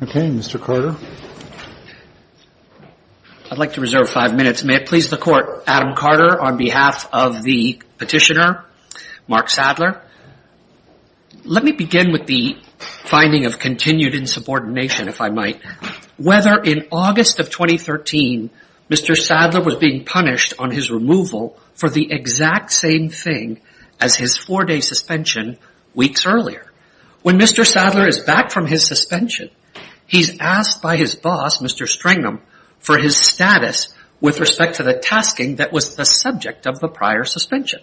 I would like to reserve five minutes. May it please the court, Adam Carter on behalf of the petitioner, Mark Sadler. Let me begin with the finding of continued insubordination if I might. Whether in August of 2013, Mr. Sadler was being punished on his removal for the exact same thing as his four day suspension weeks earlier. When Mr. Sadler is back from his suspension, he's asked by his boss, Mr. Stringham, for his status with respect to the tasking that was the subject of the prior suspension.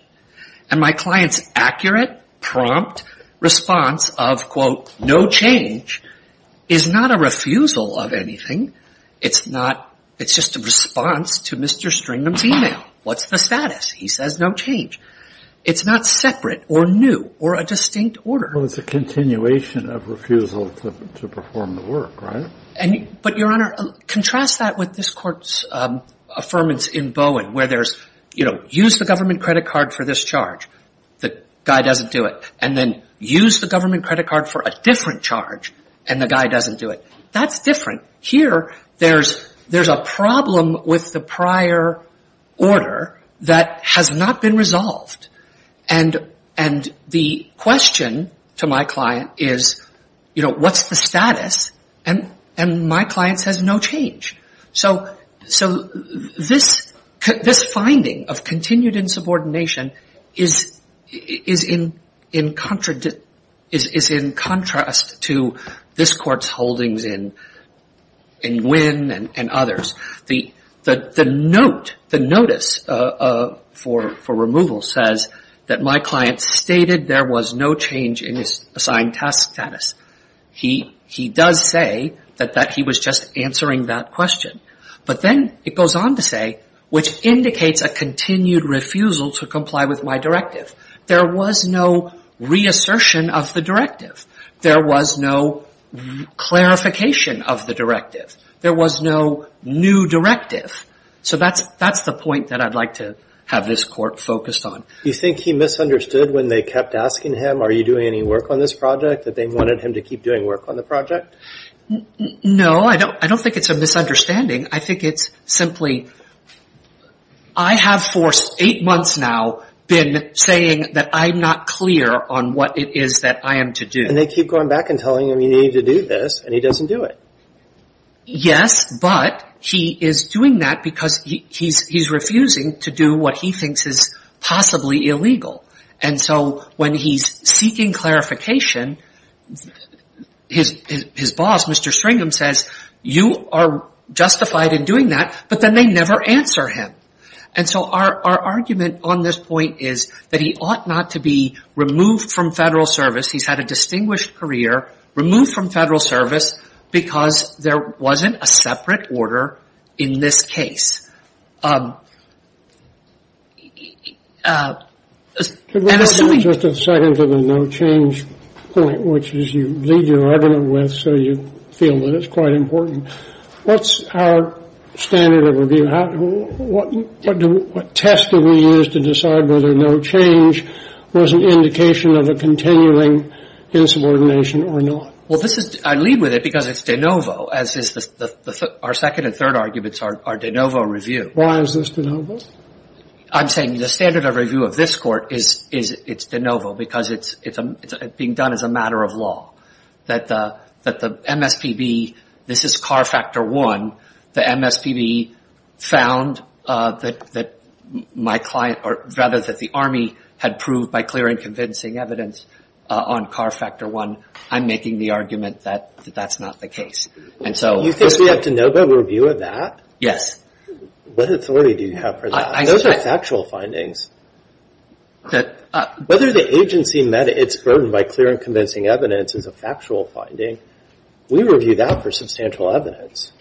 And my client's accurate, prompt response of, quote, no change is not a refusal of anything. It's not. It's just a response to Mr. Stringham's email. What's the status? He says no change. It's not separate or new or a distinct order. Well, it's a continuation of refusal to perform the work, right? But, Your Honor, contrast that with this court's affirmance in Bowen where there's, you know, use the government credit card for this charge. The guy doesn't do it. And then use the government credit card for a different charge and the guy doesn't do it. That's different. Here, there's a problem with the prior order that has not been resolved. And the question to my client is, you know, what's the status? And my client says no change. So this finding of continued insubordination is in contrast to this court's holdings in Nguyen and others. The note, the notice for removal says that my client stated there was no change in his assigned task status. He does say that he was just answering that question. But then it goes on to say, which indicates a continued refusal to comply with my directive. There was no reassertion of the directive. There was no clarification of the directive. There was no new directive. So that's the point that I'd like to have this court focused on. You think he misunderstood when they kept asking him, are you doing any work on this project, that they wanted him to keep doing work on the project? No, I don't think it's a misunderstanding. I think it's simply, I have for eight months now been saying that I'm not clear on what it is that I am to do. And they keep going back and telling him you need to do this and he doesn't do it. Yes, but he is doing that because he's refusing to do what he thinks is possibly illegal. And so when he's seeking clarification, his boss, Mr. Stringham, says you are justified in doing that, but then they never answer him. And so our argument on this point is that he ought not to be removed from federal service. He's had a distinguished career. Removed from federal service because there wasn't a separate order in this case. Just a second to the no change point, which is you leave your argument with so you feel that it's quite important. What's our standard of review? What test do we use to decide whether no change was an indication of a continuing insubordination or not? Well, this is, I lead with it because it's de novo, as is our second and third arguments are de novo Why is this de novo? I'm saying the standard of review of this court is de novo because it's being done as a matter of law. That the MSPB, this is CAR Factor 1, the MSPB found that my client, or rather that the Army had proved by clear and convincing evidence on CAR Factor 1, I'm making the argument that that's not the case. You think we have de novo review of that? Yes. What authority do you have for that? Those are factual findings. Whether the agency met its burden by clear and convincing evidence is a factual finding. We review that for substantial evidence.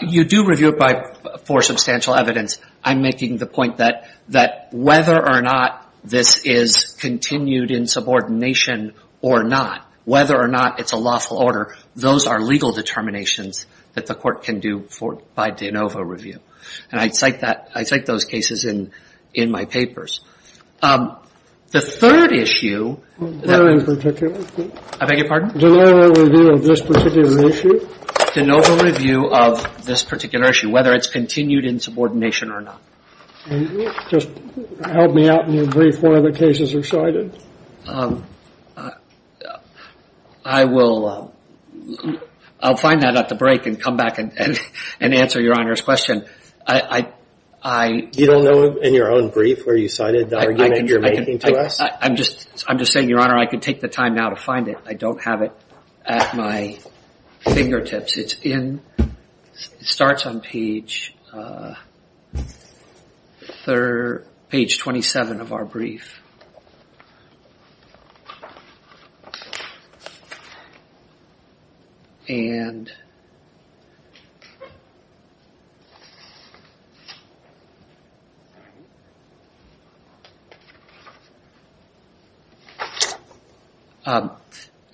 You do review it for substantial evidence. I'm making the point that whether or not this is continued insubordination or not, whether or not it's a lawful order, those are legal determinations that the court can do by de novo review. And I cite that, I cite those cases in my papers. The third issue, I beg your pardon? De novo review of this particular issue? De novo review of this particular issue, whether it's continued insubordination or not. Just help me out in your brief where the cases are cited. I will, I'll find that at the break and come back and answer your Honor's question. You don't know in your own brief where you cited the argument you're making to us? I'm just saying, your Honor, I can take the time now to find it. I don't have it at my fingertips. It's in, it starts on page 27 of our brief. And,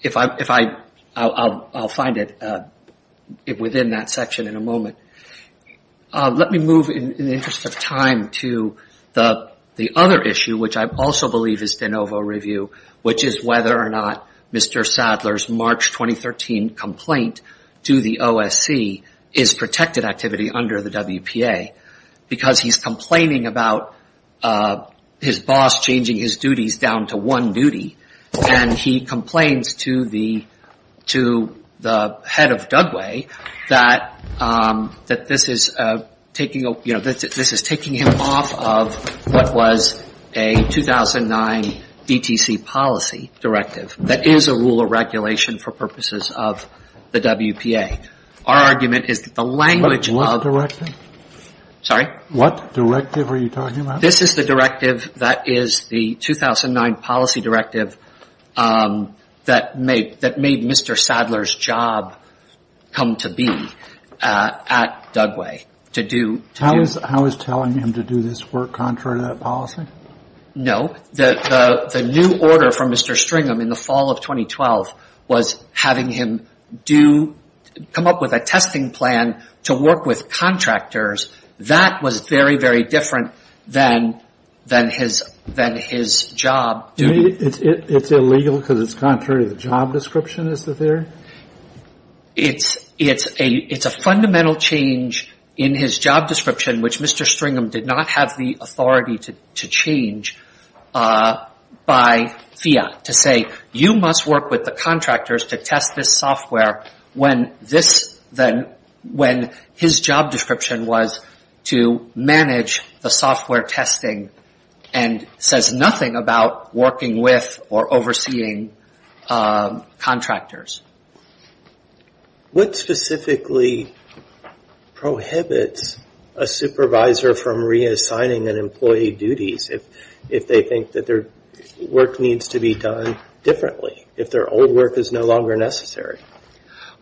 if I, I'll find it within that section in a moment. Let me move in the interest of time to the other issue, which I also believe is de novo review, which is whether or not Mr. Sadler's March 2013 complaint to the OSC is protected activity under the WPA. Because he's complaining about his boss changing his duties down to one duty. And he complains to the, to the head of Dudway that, that this is taking, you know, this is taking him off of what was a 2009 ETC policy directive. That is a rule of regulation for purposes of the WPA. Our argument is that the language of. What directive are you talking about? This is the directive that is the 2009 policy directive that made, that made Mr. Sadler's job come to be at Dudway. To do. How is telling him to do this work contrary to that policy? No. The new order from Mr. Stringham in the fall of 2012 was having him do, come up with a testing plan to work with contractors. That was very, very different than, than his, than his job. It's illegal because it's contrary to the job description, is the theory? It's, it's a, it's a fundamental change in his job description, which Mr. Stringham did not have the authority to, to change by fiat. To say you must work with the contractors to test this software when this, than when his job description was to manage the software testing and says nothing about working with or overseeing contractors. What specifically prohibits a supervisor from reassigning an employee duties if, if they think that their work needs to be done differently, if their old work is no longer necessary?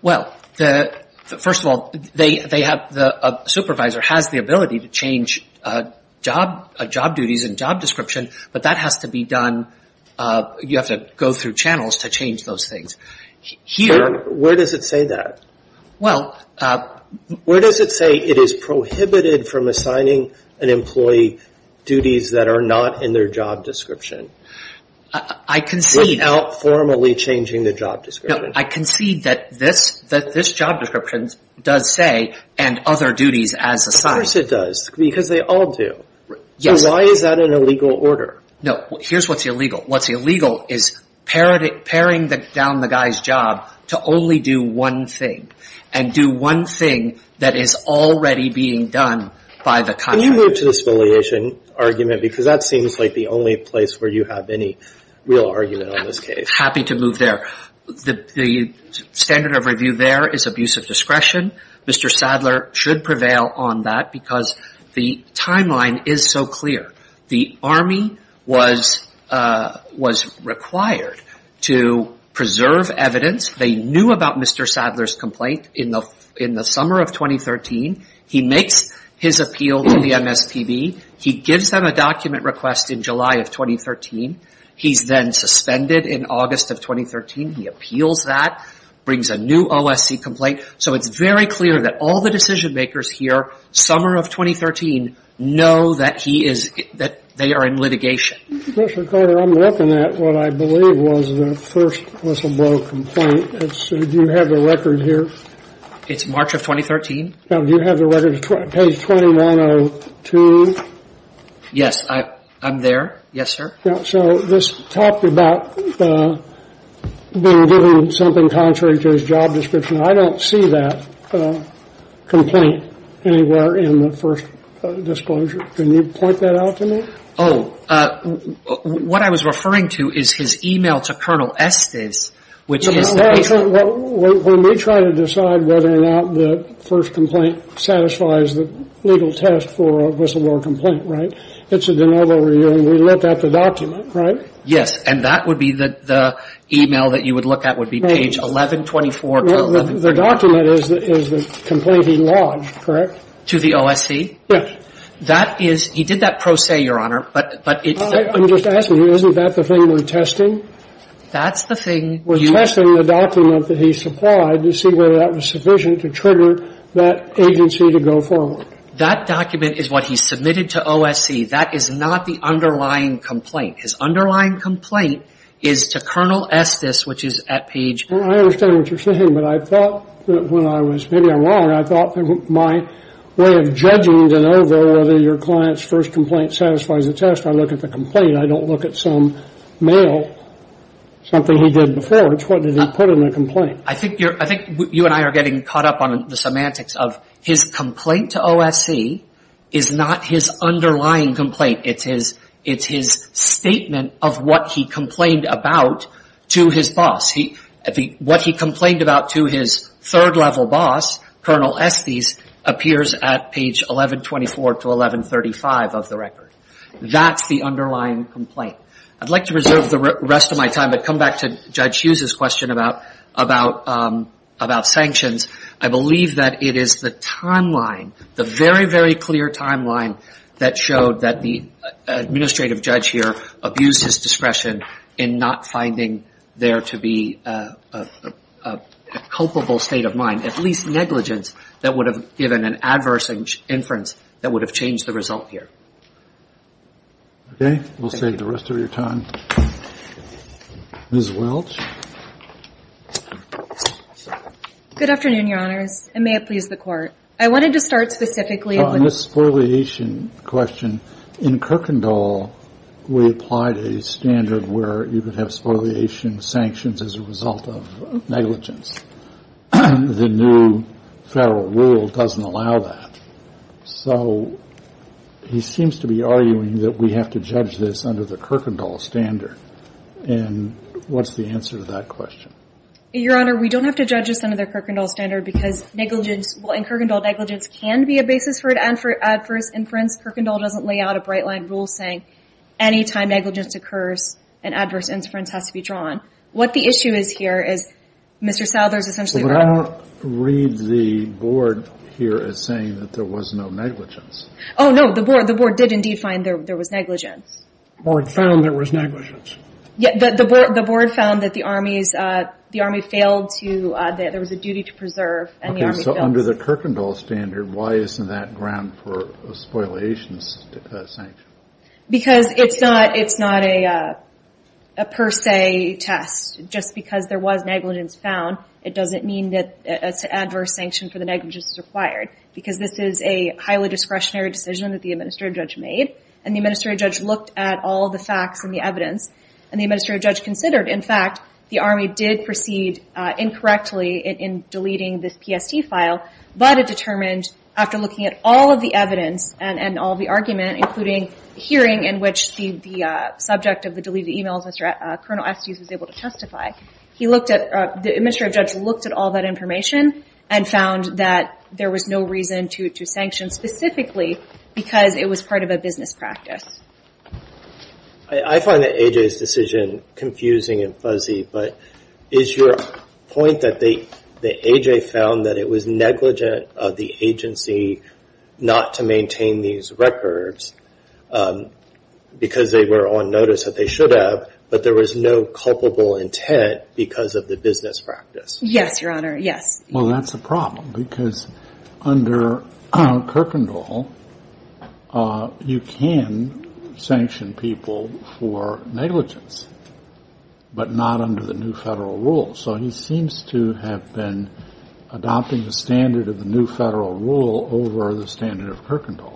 Well, the, first of all, they, they have, a supervisor has the ability to change job, job duties and job description, but that has to be done, you have to go through channels to change those things. Here. Where does it say that? Well. Where does it say it is prohibited from assigning an employee duties that are not in their job description? I concede. Without formally changing the job description. No, I concede that this, that this job description does say and other duties as assigned. Of course it does. Because they all do. Yes. So why is that an illegal order? No, here's what's illegal. What's illegal is parroting, paring down the guy's job to only do one thing. And do one thing that is already being done by the contractor. Can you move to the affiliation argument? Because that seems like the only place where you have any real argument on this case. Happy to move there. The standard of review there is abuse of discretion. Mr. Sadler should prevail on that because the timeline is so clear. The Army was required to preserve evidence. They knew about Mr. Sadler's complaint in the summer of 2013. He makes his appeal to the MSTB. He gives them a document request in July of 2013. He's then suspended in August of 2013. He appeals that, brings a new OSC complaint. So it's very clear that all the decision makers here, summer of 2013, know that he is, that they are in litigation. Mr. Carter, I'm looking at what I believe was the first whistleblower complaint. Do you have the record here? It's March of 2013. Do you have the record, page 2102? Yes, I'm there. Yes, sir. So this talked about being given something contrary to his job description. I don't see that complaint anywhere in the first disclosure. Can you point that out to me? Oh, what I was referring to is his e-mail to Colonel Estes, which is the patron. We may try to decide whether or not the first complaint satisfies the legal test for a whistleblower complaint, right? It's a de novo review. And we looked at the document, right? Yes. And that would be the e-mail that you would look at would be page 1124 to 1134. The document is the complaint he lodged, correct? To the OSC? Yes. That is he did that pro se, Your Honor, but it's the – I'm just asking you, isn't that the thing we're testing? That's the thing you – We're testing the document that he supplied to see whether that was sufficient to trigger that agency to go forward. That document is what he submitted to OSC. That is not the underlying complaint. His underlying complaint is to Colonel Estes, which is at page – I understand what you're saying, but I thought when I was – maybe I'm wrong. I thought my way of judging de novo whether your client's first complaint satisfies the test, I look at the complaint. I don't look at some mail, something he did before. It's what did he put in the complaint. I think you and I are getting caught up on the semantics of his complaint to OSC is not his underlying complaint. It's his statement of what he complained about to his boss. What he complained about to his third-level boss, Colonel Estes, appears at page 1124 to 1135 of the record. That's the underlying complaint. I'd like to reserve the rest of my time but come back to Judge Hughes's question about sanctions. I believe that it is the timeline, the very, very clear timeline that showed that the administrative judge here abused his discretion in not finding there to be a culpable state of mind, at least negligence, that would have given an adverse inference that would have changed the result here. Okay. We'll save the rest of your time. Ms. Welch. MS. Good afternoon, Your Honors, and may it please the Court. I wanted to start specifically on this. On this spoliation question, in Kirkendall we applied a standard where you could have spoliation sanctions as a result of negligence. The new federal rule doesn't allow that. So he seems to be arguing that we have to judge this under the Kirkendall standard. And what's the answer to that question? Your Honor, we don't have to judge this under the Kirkendall standard because negligence in Kirkendall negligence can be a basis for an adverse inference. Kirkendall doesn't lay out a bright-line rule saying any time negligence occurs, an adverse inference has to be drawn. What the issue is here is Mr. Souther's essentially right. I don't read the Board here as saying that there was no negligence. Oh, no, the Board did indeed find there was negligence. The Board found there was negligence. The Board found that the Army failed to, that there was a duty to preserve. Okay, so under the Kirkendall standard, why isn't that ground for a spoliation sanction? Because it's not a per se test. Just because there was negligence found, it doesn't mean that an adverse sanction for the negligence is required. Because this is a highly discretionary decision that the Administrative Judge made, and the Administrative Judge looked at all of the facts and the evidence, and the Administrative Judge considered, in fact, the Army did proceed incorrectly in deleting this PST file, but it determined after looking at all of the evidence and all of the argument, including hearing in which the subject of the deleted e-mails, Colonel Estes was able to testify, the Administrative Judge looked at all that information and found that there was no reason to sanction specifically because it was part of a business practice. I find that A.J.'s decision confusing and fuzzy, but is your point that A.J. found that it was negligent of the agency not to maintain these records because they were on notice that they should have, but there was no culpable intent because of the business practice? Yes, Your Honor, yes. Well, that's a problem because under Kirkendall, you can sanction people for negligence, but not under the new federal rule, so he seems to have been adopting the standard of the new federal rule over the standard of Kirkendall.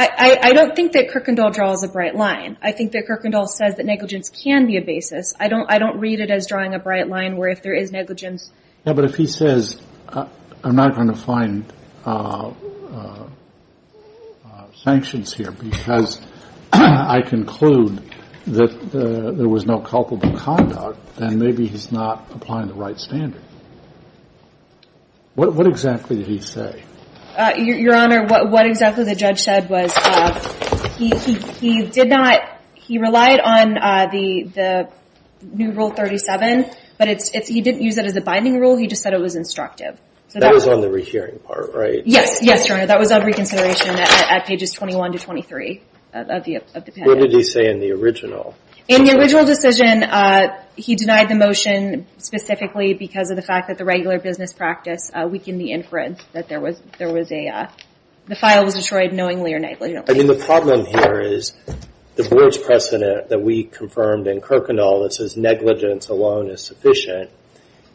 I don't think that Kirkendall draws a bright line. I think that Kirkendall says that negligence can be a basis. I don't read it as drawing a bright line where if there is negligence – Yeah, but if he says, I'm not going to find sanctions here because I conclude that there was no culpable conduct, then maybe he's not applying the right standard. What exactly did he say? Your Honor, what exactly the judge said was he relied on the new rule 37, but he didn't use it as a binding rule. He just said it was instructive. That was on the rehearing part, right? Yes, Your Honor, that was on reconsideration at pages 21 to 23 of the patent. What did he say in the original? In the original decision, he denied the motion specifically because of the fact that the regular business practice weakened the inference that the file was destroyed knowingly or negligently. The problem here is the board's precedent that we confirmed in Kirkendall that says negligence alone is sufficient.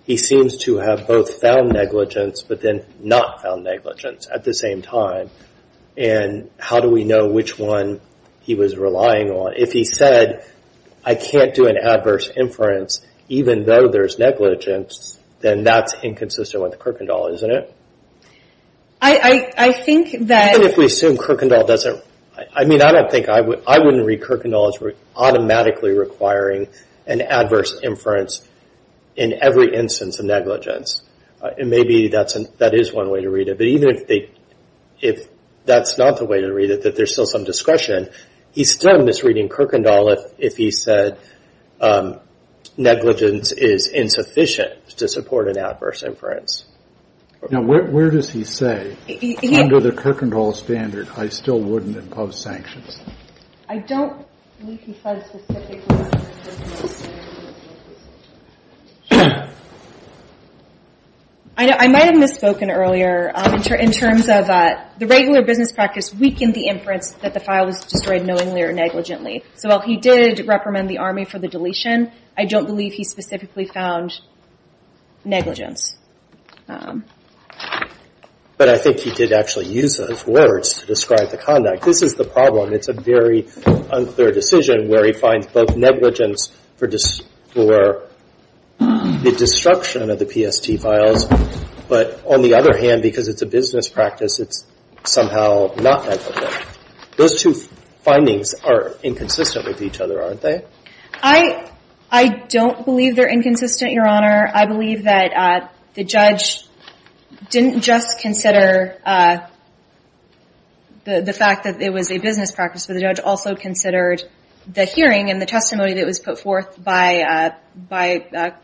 He seems to have both found negligence but then not found negligence at the same time. How do we know which one he was relying on? If he said, I can't do an adverse inference even though there's negligence, then that's inconsistent with Kirkendall, isn't it? Even if we assume Kirkendall doesn't – I mean, I don't think – I wouldn't read Kirkendall as automatically requiring an adverse inference in every instance of negligence. Maybe that is one way to read it. But even if that's not the way to read it, that there's still some discretion, he's still misreading Kirkendall if he said negligence is insufficient to support an adverse inference. Now, where does he say, under the Kirkendall standard, I still wouldn't impose sanctions? I don't believe he said specifically that there's negligence. I might have misspoken earlier in terms of the regular business practice weakened the inference that the file was destroyed knowingly or negligently. So while he did reprimand the Army for the deletion, I don't believe he specifically found negligence. But I think he did actually use those words to describe the conduct. This is the problem. It's a very unclear decision where he finds both negligence for the destruction of the PST files, but on the other hand, because it's a business practice, it's somehow not meant for that. Those two findings are inconsistent with each other, aren't they? I don't believe they're inconsistent, Your Honor. I believe that the judge didn't just consider the fact that it was a business practice, but the judge also considered the hearing and the testimony that was put forth by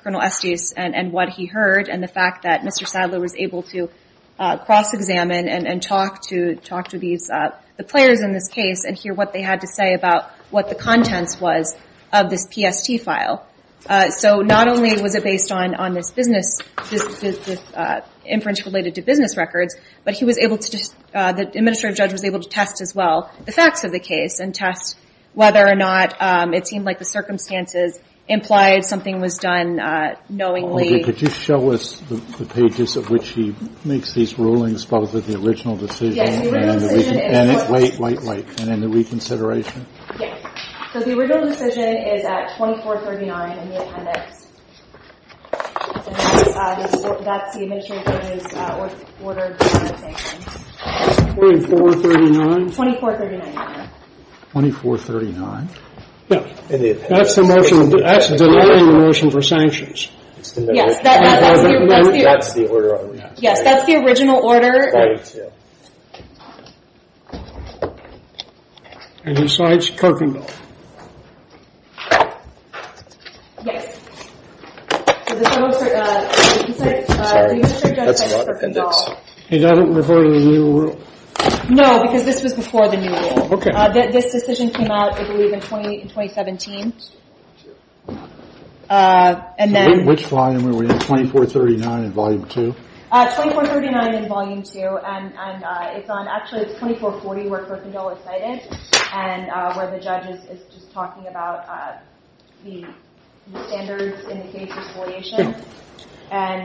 Colonel Estes and what he heard and the fact that Mr. Sadler was able to cross-examine and talk to the players in this case and hear what they had to say about what the contents was of this PST file. So not only was it based on this business, inference related to business records, but he was able to just, the administrative judge was able to test as well the facts of the case and test whether or not it seemed like the circumstances implied something was done knowingly. Could you show us the pages of which he makes these rulings, both of the original decision and the reconsideration? The original decision is at 2439 in the appendix. That's the administrative judge's order. 2439? 2439, Your Honor. 2439. That's the motion, that's the delaying motion for sanctions. Yes, that's the original order. Yes, that's the original order. And besides Kirkendall? Yes. The administrative judge has Kirkendall. And that doesn't refer to the new rule? No, because this was before the new rule. Okay. This decision came out, I believe, in 2017. Which volume were we in? 2439 in volume two? 2439 in volume two, and actually it's 2440 where Kirkendall is cited and where the judge is just talking about the standards in the case resolution. And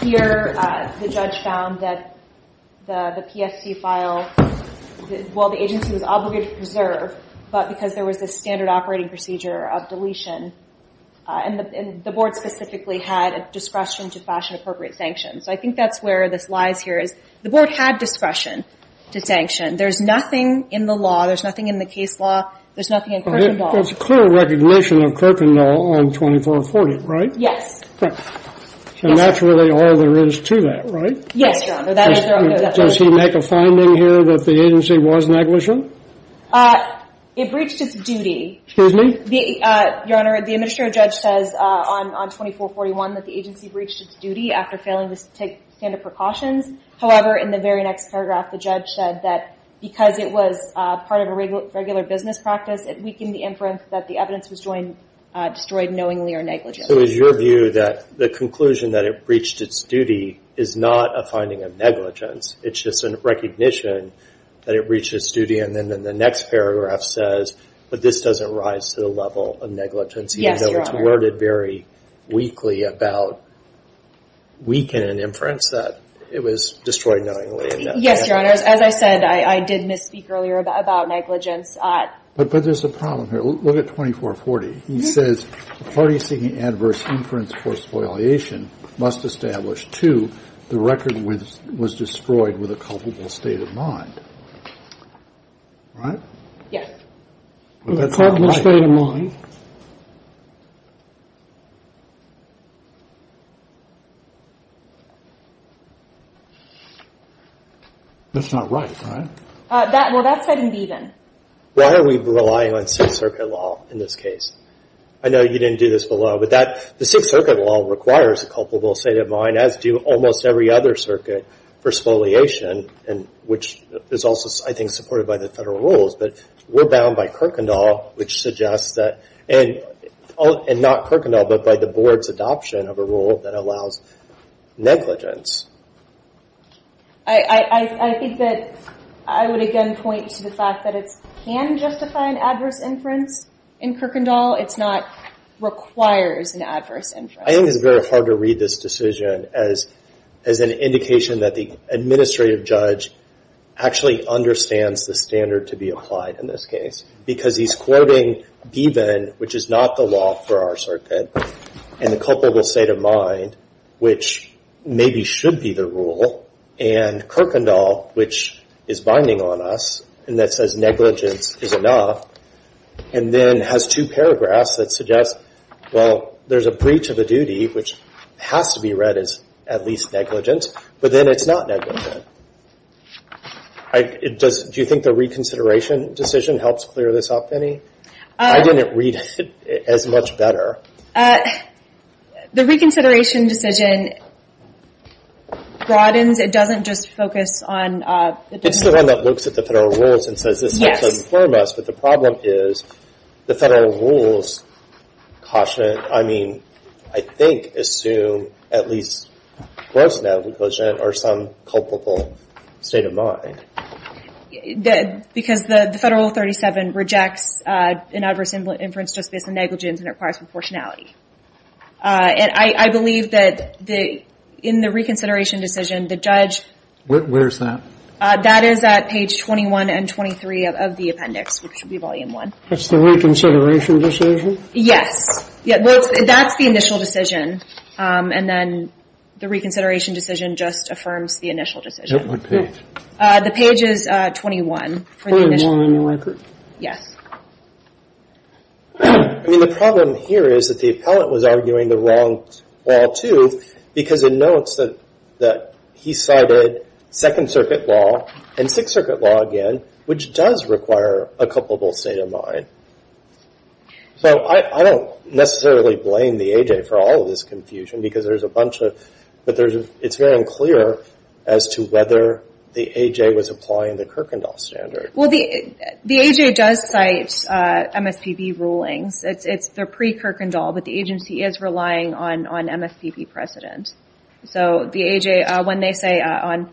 here the judge found that the PSC file, while the agency was obligated to preserve, but because there was a standard operating procedure of deletion, and the board specifically had a discretion to fashion appropriate sanctions. I think that's where this lies here, is the board had discretion to sanction. There's nothing in the law, there's nothing in the case law, there's nothing in Kirkendall. There's clear recognition of Kirkendall on 2440, right? Yes. And that's really all there is to that, right? Yes, Your Honor. Does he make a finding here that the agency was negligent? It breached its duty. Excuse me? Your Honor, the administrative judge says on 2441 that the agency breached its duty after failing to take standard precautions. However, in the very next paragraph, the judge said that because it was part of a regular business practice, it weakened the inference that the evidence was destroyed knowingly or negligently. So it was your view that the conclusion that it breached its duty is not a finding of negligence. It's just a recognition that it breached its duty. And then the next paragraph says, but this doesn't rise to the level of negligence. Yes, Your Honor. Even though it's worded very weakly about weakening inference, that it was destroyed knowingly. Yes, Your Honor. As I said, I did misspeak earlier about negligence. But there's a problem here. Look at 2440. He says, a party seeking adverse inference for spoliation must establish, the record was destroyed with a culpable state of mind. With a culpable state of mind. That's not right, right? Well, that's heading B, then. Why are we relying on Sixth Circuit law in this case? I know you didn't do this below. But that, the Sixth Circuit law requires a culpable state of mind, as do almost every other circuit for spoliation, which is also, I think, supported by the federal rules. But we're bound by Kirkendall, which suggests that, and not Kirkendall, but by the board's adoption of a rule that allows negligence. I think that I would again point to the fact that it can justify an adverse inference in Kirkendall. It's not, requires an adverse inference. I think it's very hard to read this decision as an indication that the administrative judge actually understands the standard to be applied in this case. Because he's quoting Gieben, which is not the law for our circuit. And the culpable state of mind, which maybe should be the rule. And Kirkendall, which is binding on us, and that says negligence is enough. And then has two paragraphs that suggest, well, there's a breach of a duty, which has to be read as at least negligent. But then it's not negligent. Do you think the reconsideration decision helps clear this up, Penny? I didn't read it as much better. The reconsideration decision broadens. It doesn't just focus on... It's the one that looks at the federal rules and says this helps inform us. But the problem is, the federal rules caution it. I mean, I think assume at least gross negligence or some culpable state of mind. Because the Federal Rule 37 rejects an adverse inference just based on negligence and requires proportionality. And I believe that in the reconsideration decision, the judge... Where's that? That is at page 21 and 23 of the appendix, which would be volume one. That's the reconsideration decision? Yes. Well, that's the initial decision. And then the reconsideration decision just affirms the initial decision. It would be. The page is 21 for the initial one. 21 in your record? Yes. I mean, the problem here is that the appellate was arguing the wrong wall, too, because it notes that he cited Second Circuit Law and Sixth Circuit Law again, which does require a culpable state of mind. So I don't necessarily blame the A.J. for all of this confusion, because there's a bunch of... But it's very unclear as to whether the A.J. was applying the Kirkendall standard. Well, the A.J. does cite MSPB rulings. They're pre-Kirkendall, but the agency is relying on MSPB precedent. So the A.J., when they say on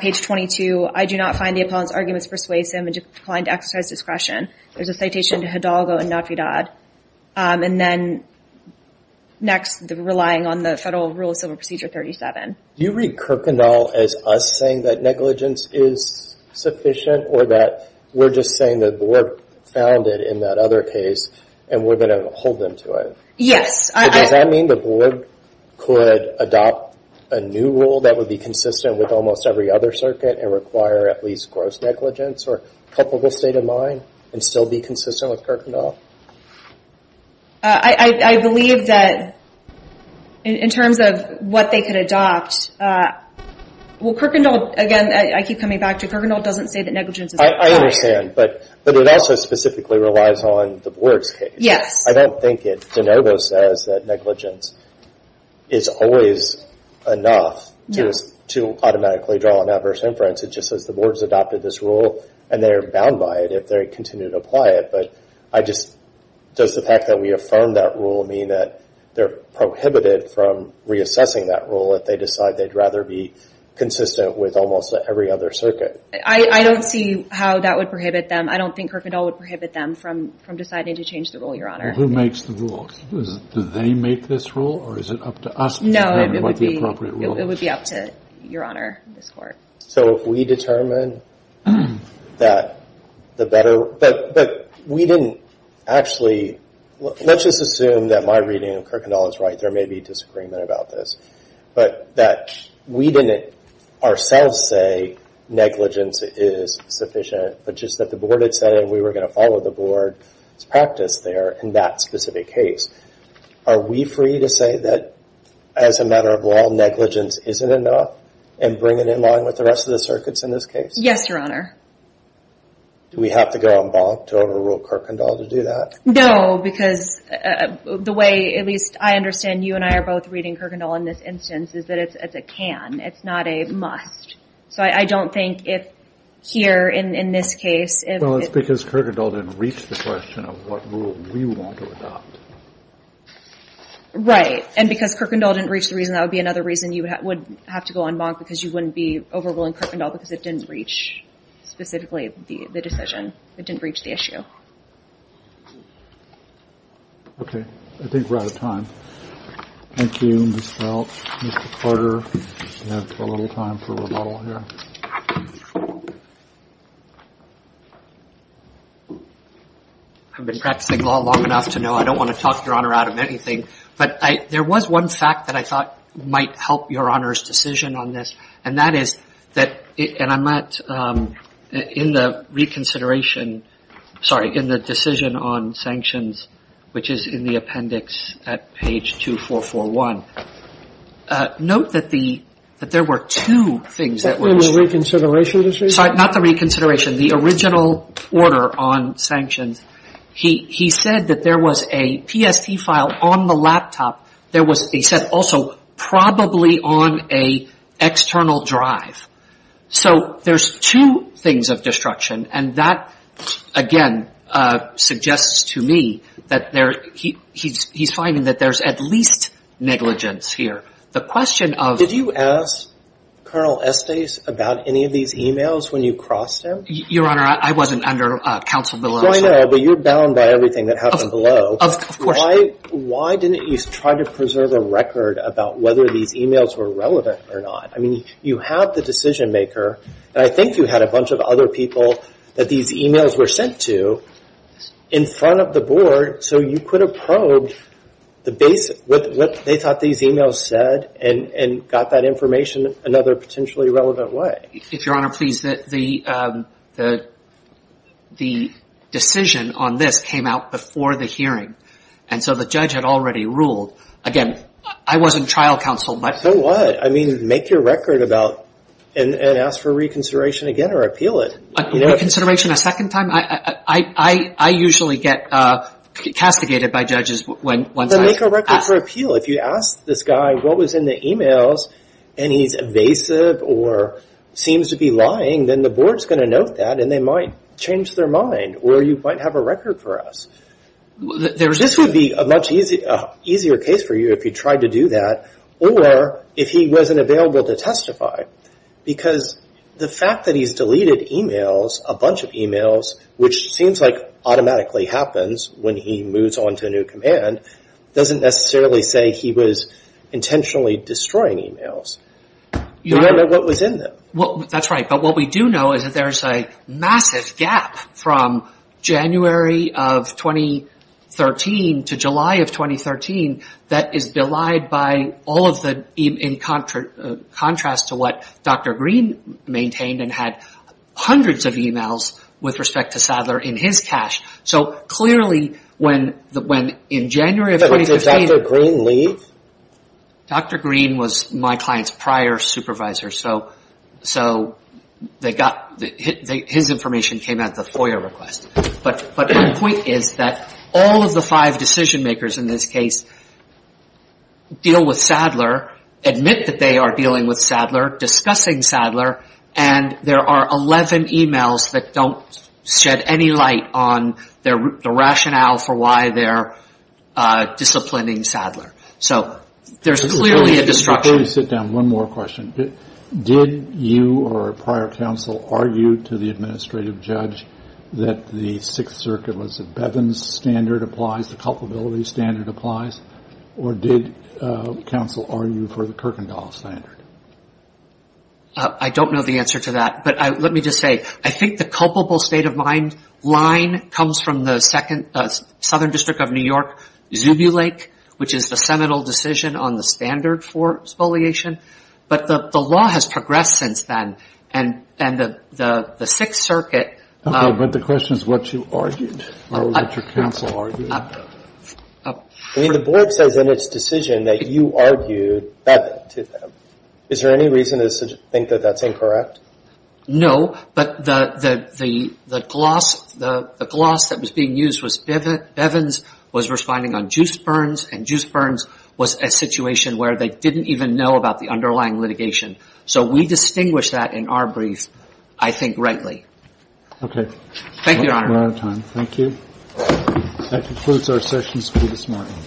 page 22, I do not find the appellant's arguments persuasive and decline to exercise discretion, there's a citation to Hidalgo and Navidad. And then next, relying on the Federal Rule of Civil Procedure 37. Do you read Kirkendall as us saying that negligence is sufficient or that we're just saying the Board found it in that other case and we're going to hold them to it? Yes. Does that mean the Board could adopt a new rule that would be consistent with almost every other circuit and require at least gross negligence or culpable state of mind and still be consistent with Kirkendall? I believe that, in terms of what they could adopt, well, Kirkendall, again, I keep coming back to, Kirkendall doesn't say that negligence is required. I understand, but it also specifically relies on the Board's case. Yes. I don't think it. De Novo says that negligence is always enough to automatically draw an adverse inference. It just says the Board's adopted this rule and they're bound by it if they continue to apply it. But does the fact that we affirm that rule mean that they're prohibited from reassessing that rule if they decide they'd rather be consistent with almost every other circuit? I don't see how that would prohibit them. I don't think Kirkendall would prohibit them from deciding to change the rule, Your Honor. Who makes the rules? Do they make this rule or is it up to us to determine what the appropriate rule is? No, it would be up to Your Honor, this Court. So if we determine that the better, but we didn't actually, let's just assume that my reading of Kirkendall is right, there may be disagreement about this, but that we didn't ourselves say negligence is sufficient, but just that the Board had said we were going to follow the Board's practice there in that specific case, are we free to say that, as a matter of law, negligence isn't enough and bring it in line with the rest of the circuits in this case? Yes, Your Honor. Do we have to go on bond to overrule Kirkendall to do that? No, because the way, at least I understand, and you and I are both reading Kirkendall in this instance, is that it's a can. It's not a must. So I don't think if here, in this case, if it's... Well, it's because Kirkendall didn't reach the question of what rule we want to adopt. Right, and because Kirkendall didn't reach the reason, that would be another reason you would have to go on bond, because you wouldn't be overruling Kirkendall because it didn't reach, specifically, the decision. It didn't reach the issue. Okay. I think we're out of time. Thank you, Ms. Welch. Mr. Carter, you have a little time for rebuttal here. I've been practicing law long enough to know I don't want to talk, Your Honor, out of anything. But there was one fact that I thought might help Your Honor's decision on this, and that is that, and I'm not, in the reconsideration, sorry, in the decision on sanctions, which is in the appendix at page 2441. Note that there were two things that were... In the reconsideration decision? Sorry, not the reconsideration. The original order on sanctions. He said that there was a PST file on the laptop. There was, he said, also, probably on an external drive. So there's two things of destruction, and that, again, suggests to me that there, he's finding that there's at least negligence here. The question of... Did you ask Colonel Estes about any of these e-mails when you crossed him? Your Honor, I wasn't under counsel below. Well, I know, but you're bound by everything that happened below. Of course. Why didn't you try to preserve a record about whether these e-mails were relevant or not? I mean, you have the decision maker, and I think you had a bunch of other people that these e-mails were sent to in front of the board, so you could have probed what they thought these e-mails said and got that information another potentially relevant way. If Your Honor, please, the decision on this came out before the hearing, and so the judge had already ruled. Again, I wasn't trial counsel, but... So what? I mean, make your record about and ask for reconsideration again or appeal it. Reconsideration a second time? I usually get castigated by judges once I... Then make a record for appeal. If you ask this guy what was in the e-mails and he's evasive or seems to be lying, then the board's going to note that and they might change their mind, or you might have a record for us. This would be a much easier case for you if you tried to do that, or if he wasn't available to testify, because the fact that he's deleted e-mails, a bunch of e-mails, which seems like automatically happens when he moves on to a new command, doesn't necessarily say he was intentionally destroying e-mails. You don't know what was in them. That's right. But what we do know is that there's a massive gap from January of 2013 to July of 2013 that is belied by all of the... in contrast to what Dr. Green maintained and had hundreds of e-mails with respect to Sadler in his cache. So clearly when in January of 2013... Did Dr. Green leave? Dr. Green was my client's prior supervisor, so his information came at the FOIA request. But the point is that all of the five decision makers in this case deal with Sadler, admit that they are dealing with Sadler, discussing Sadler, and there are 11 e-mails that don't shed any light on the rationale for why they're disciplining Sadler. So there's clearly a disruption. Before you sit down, one more question. Did you or a prior counsel argue to the administrative judge that the Sixth Circuit was... that Bevin's standard applies, the culpability standard applies, or did counsel argue for the Kirkendall standard? I don't know the answer to that, but let me just say, I think the culpable state of mind line comes from the Southern District of New York, Zubulake, which is the seminal decision on the standard for spoliation. But the law has progressed since then, and the Sixth Circuit... But the question is what you argued or what your counsel argued. I mean, the board says in its decision that you argued Bevin to them. Is there any reason to think that that's incorrect? No, but the gloss that was being used was Bevin was responding on Juice Burns, and Juice Burns was a situation where they didn't even know about the underlying litigation. So we distinguish that in our brief, I think, rightly. Okay. Thank you, Your Honor. We're out of time. Thank you. That concludes our sessions for this morning.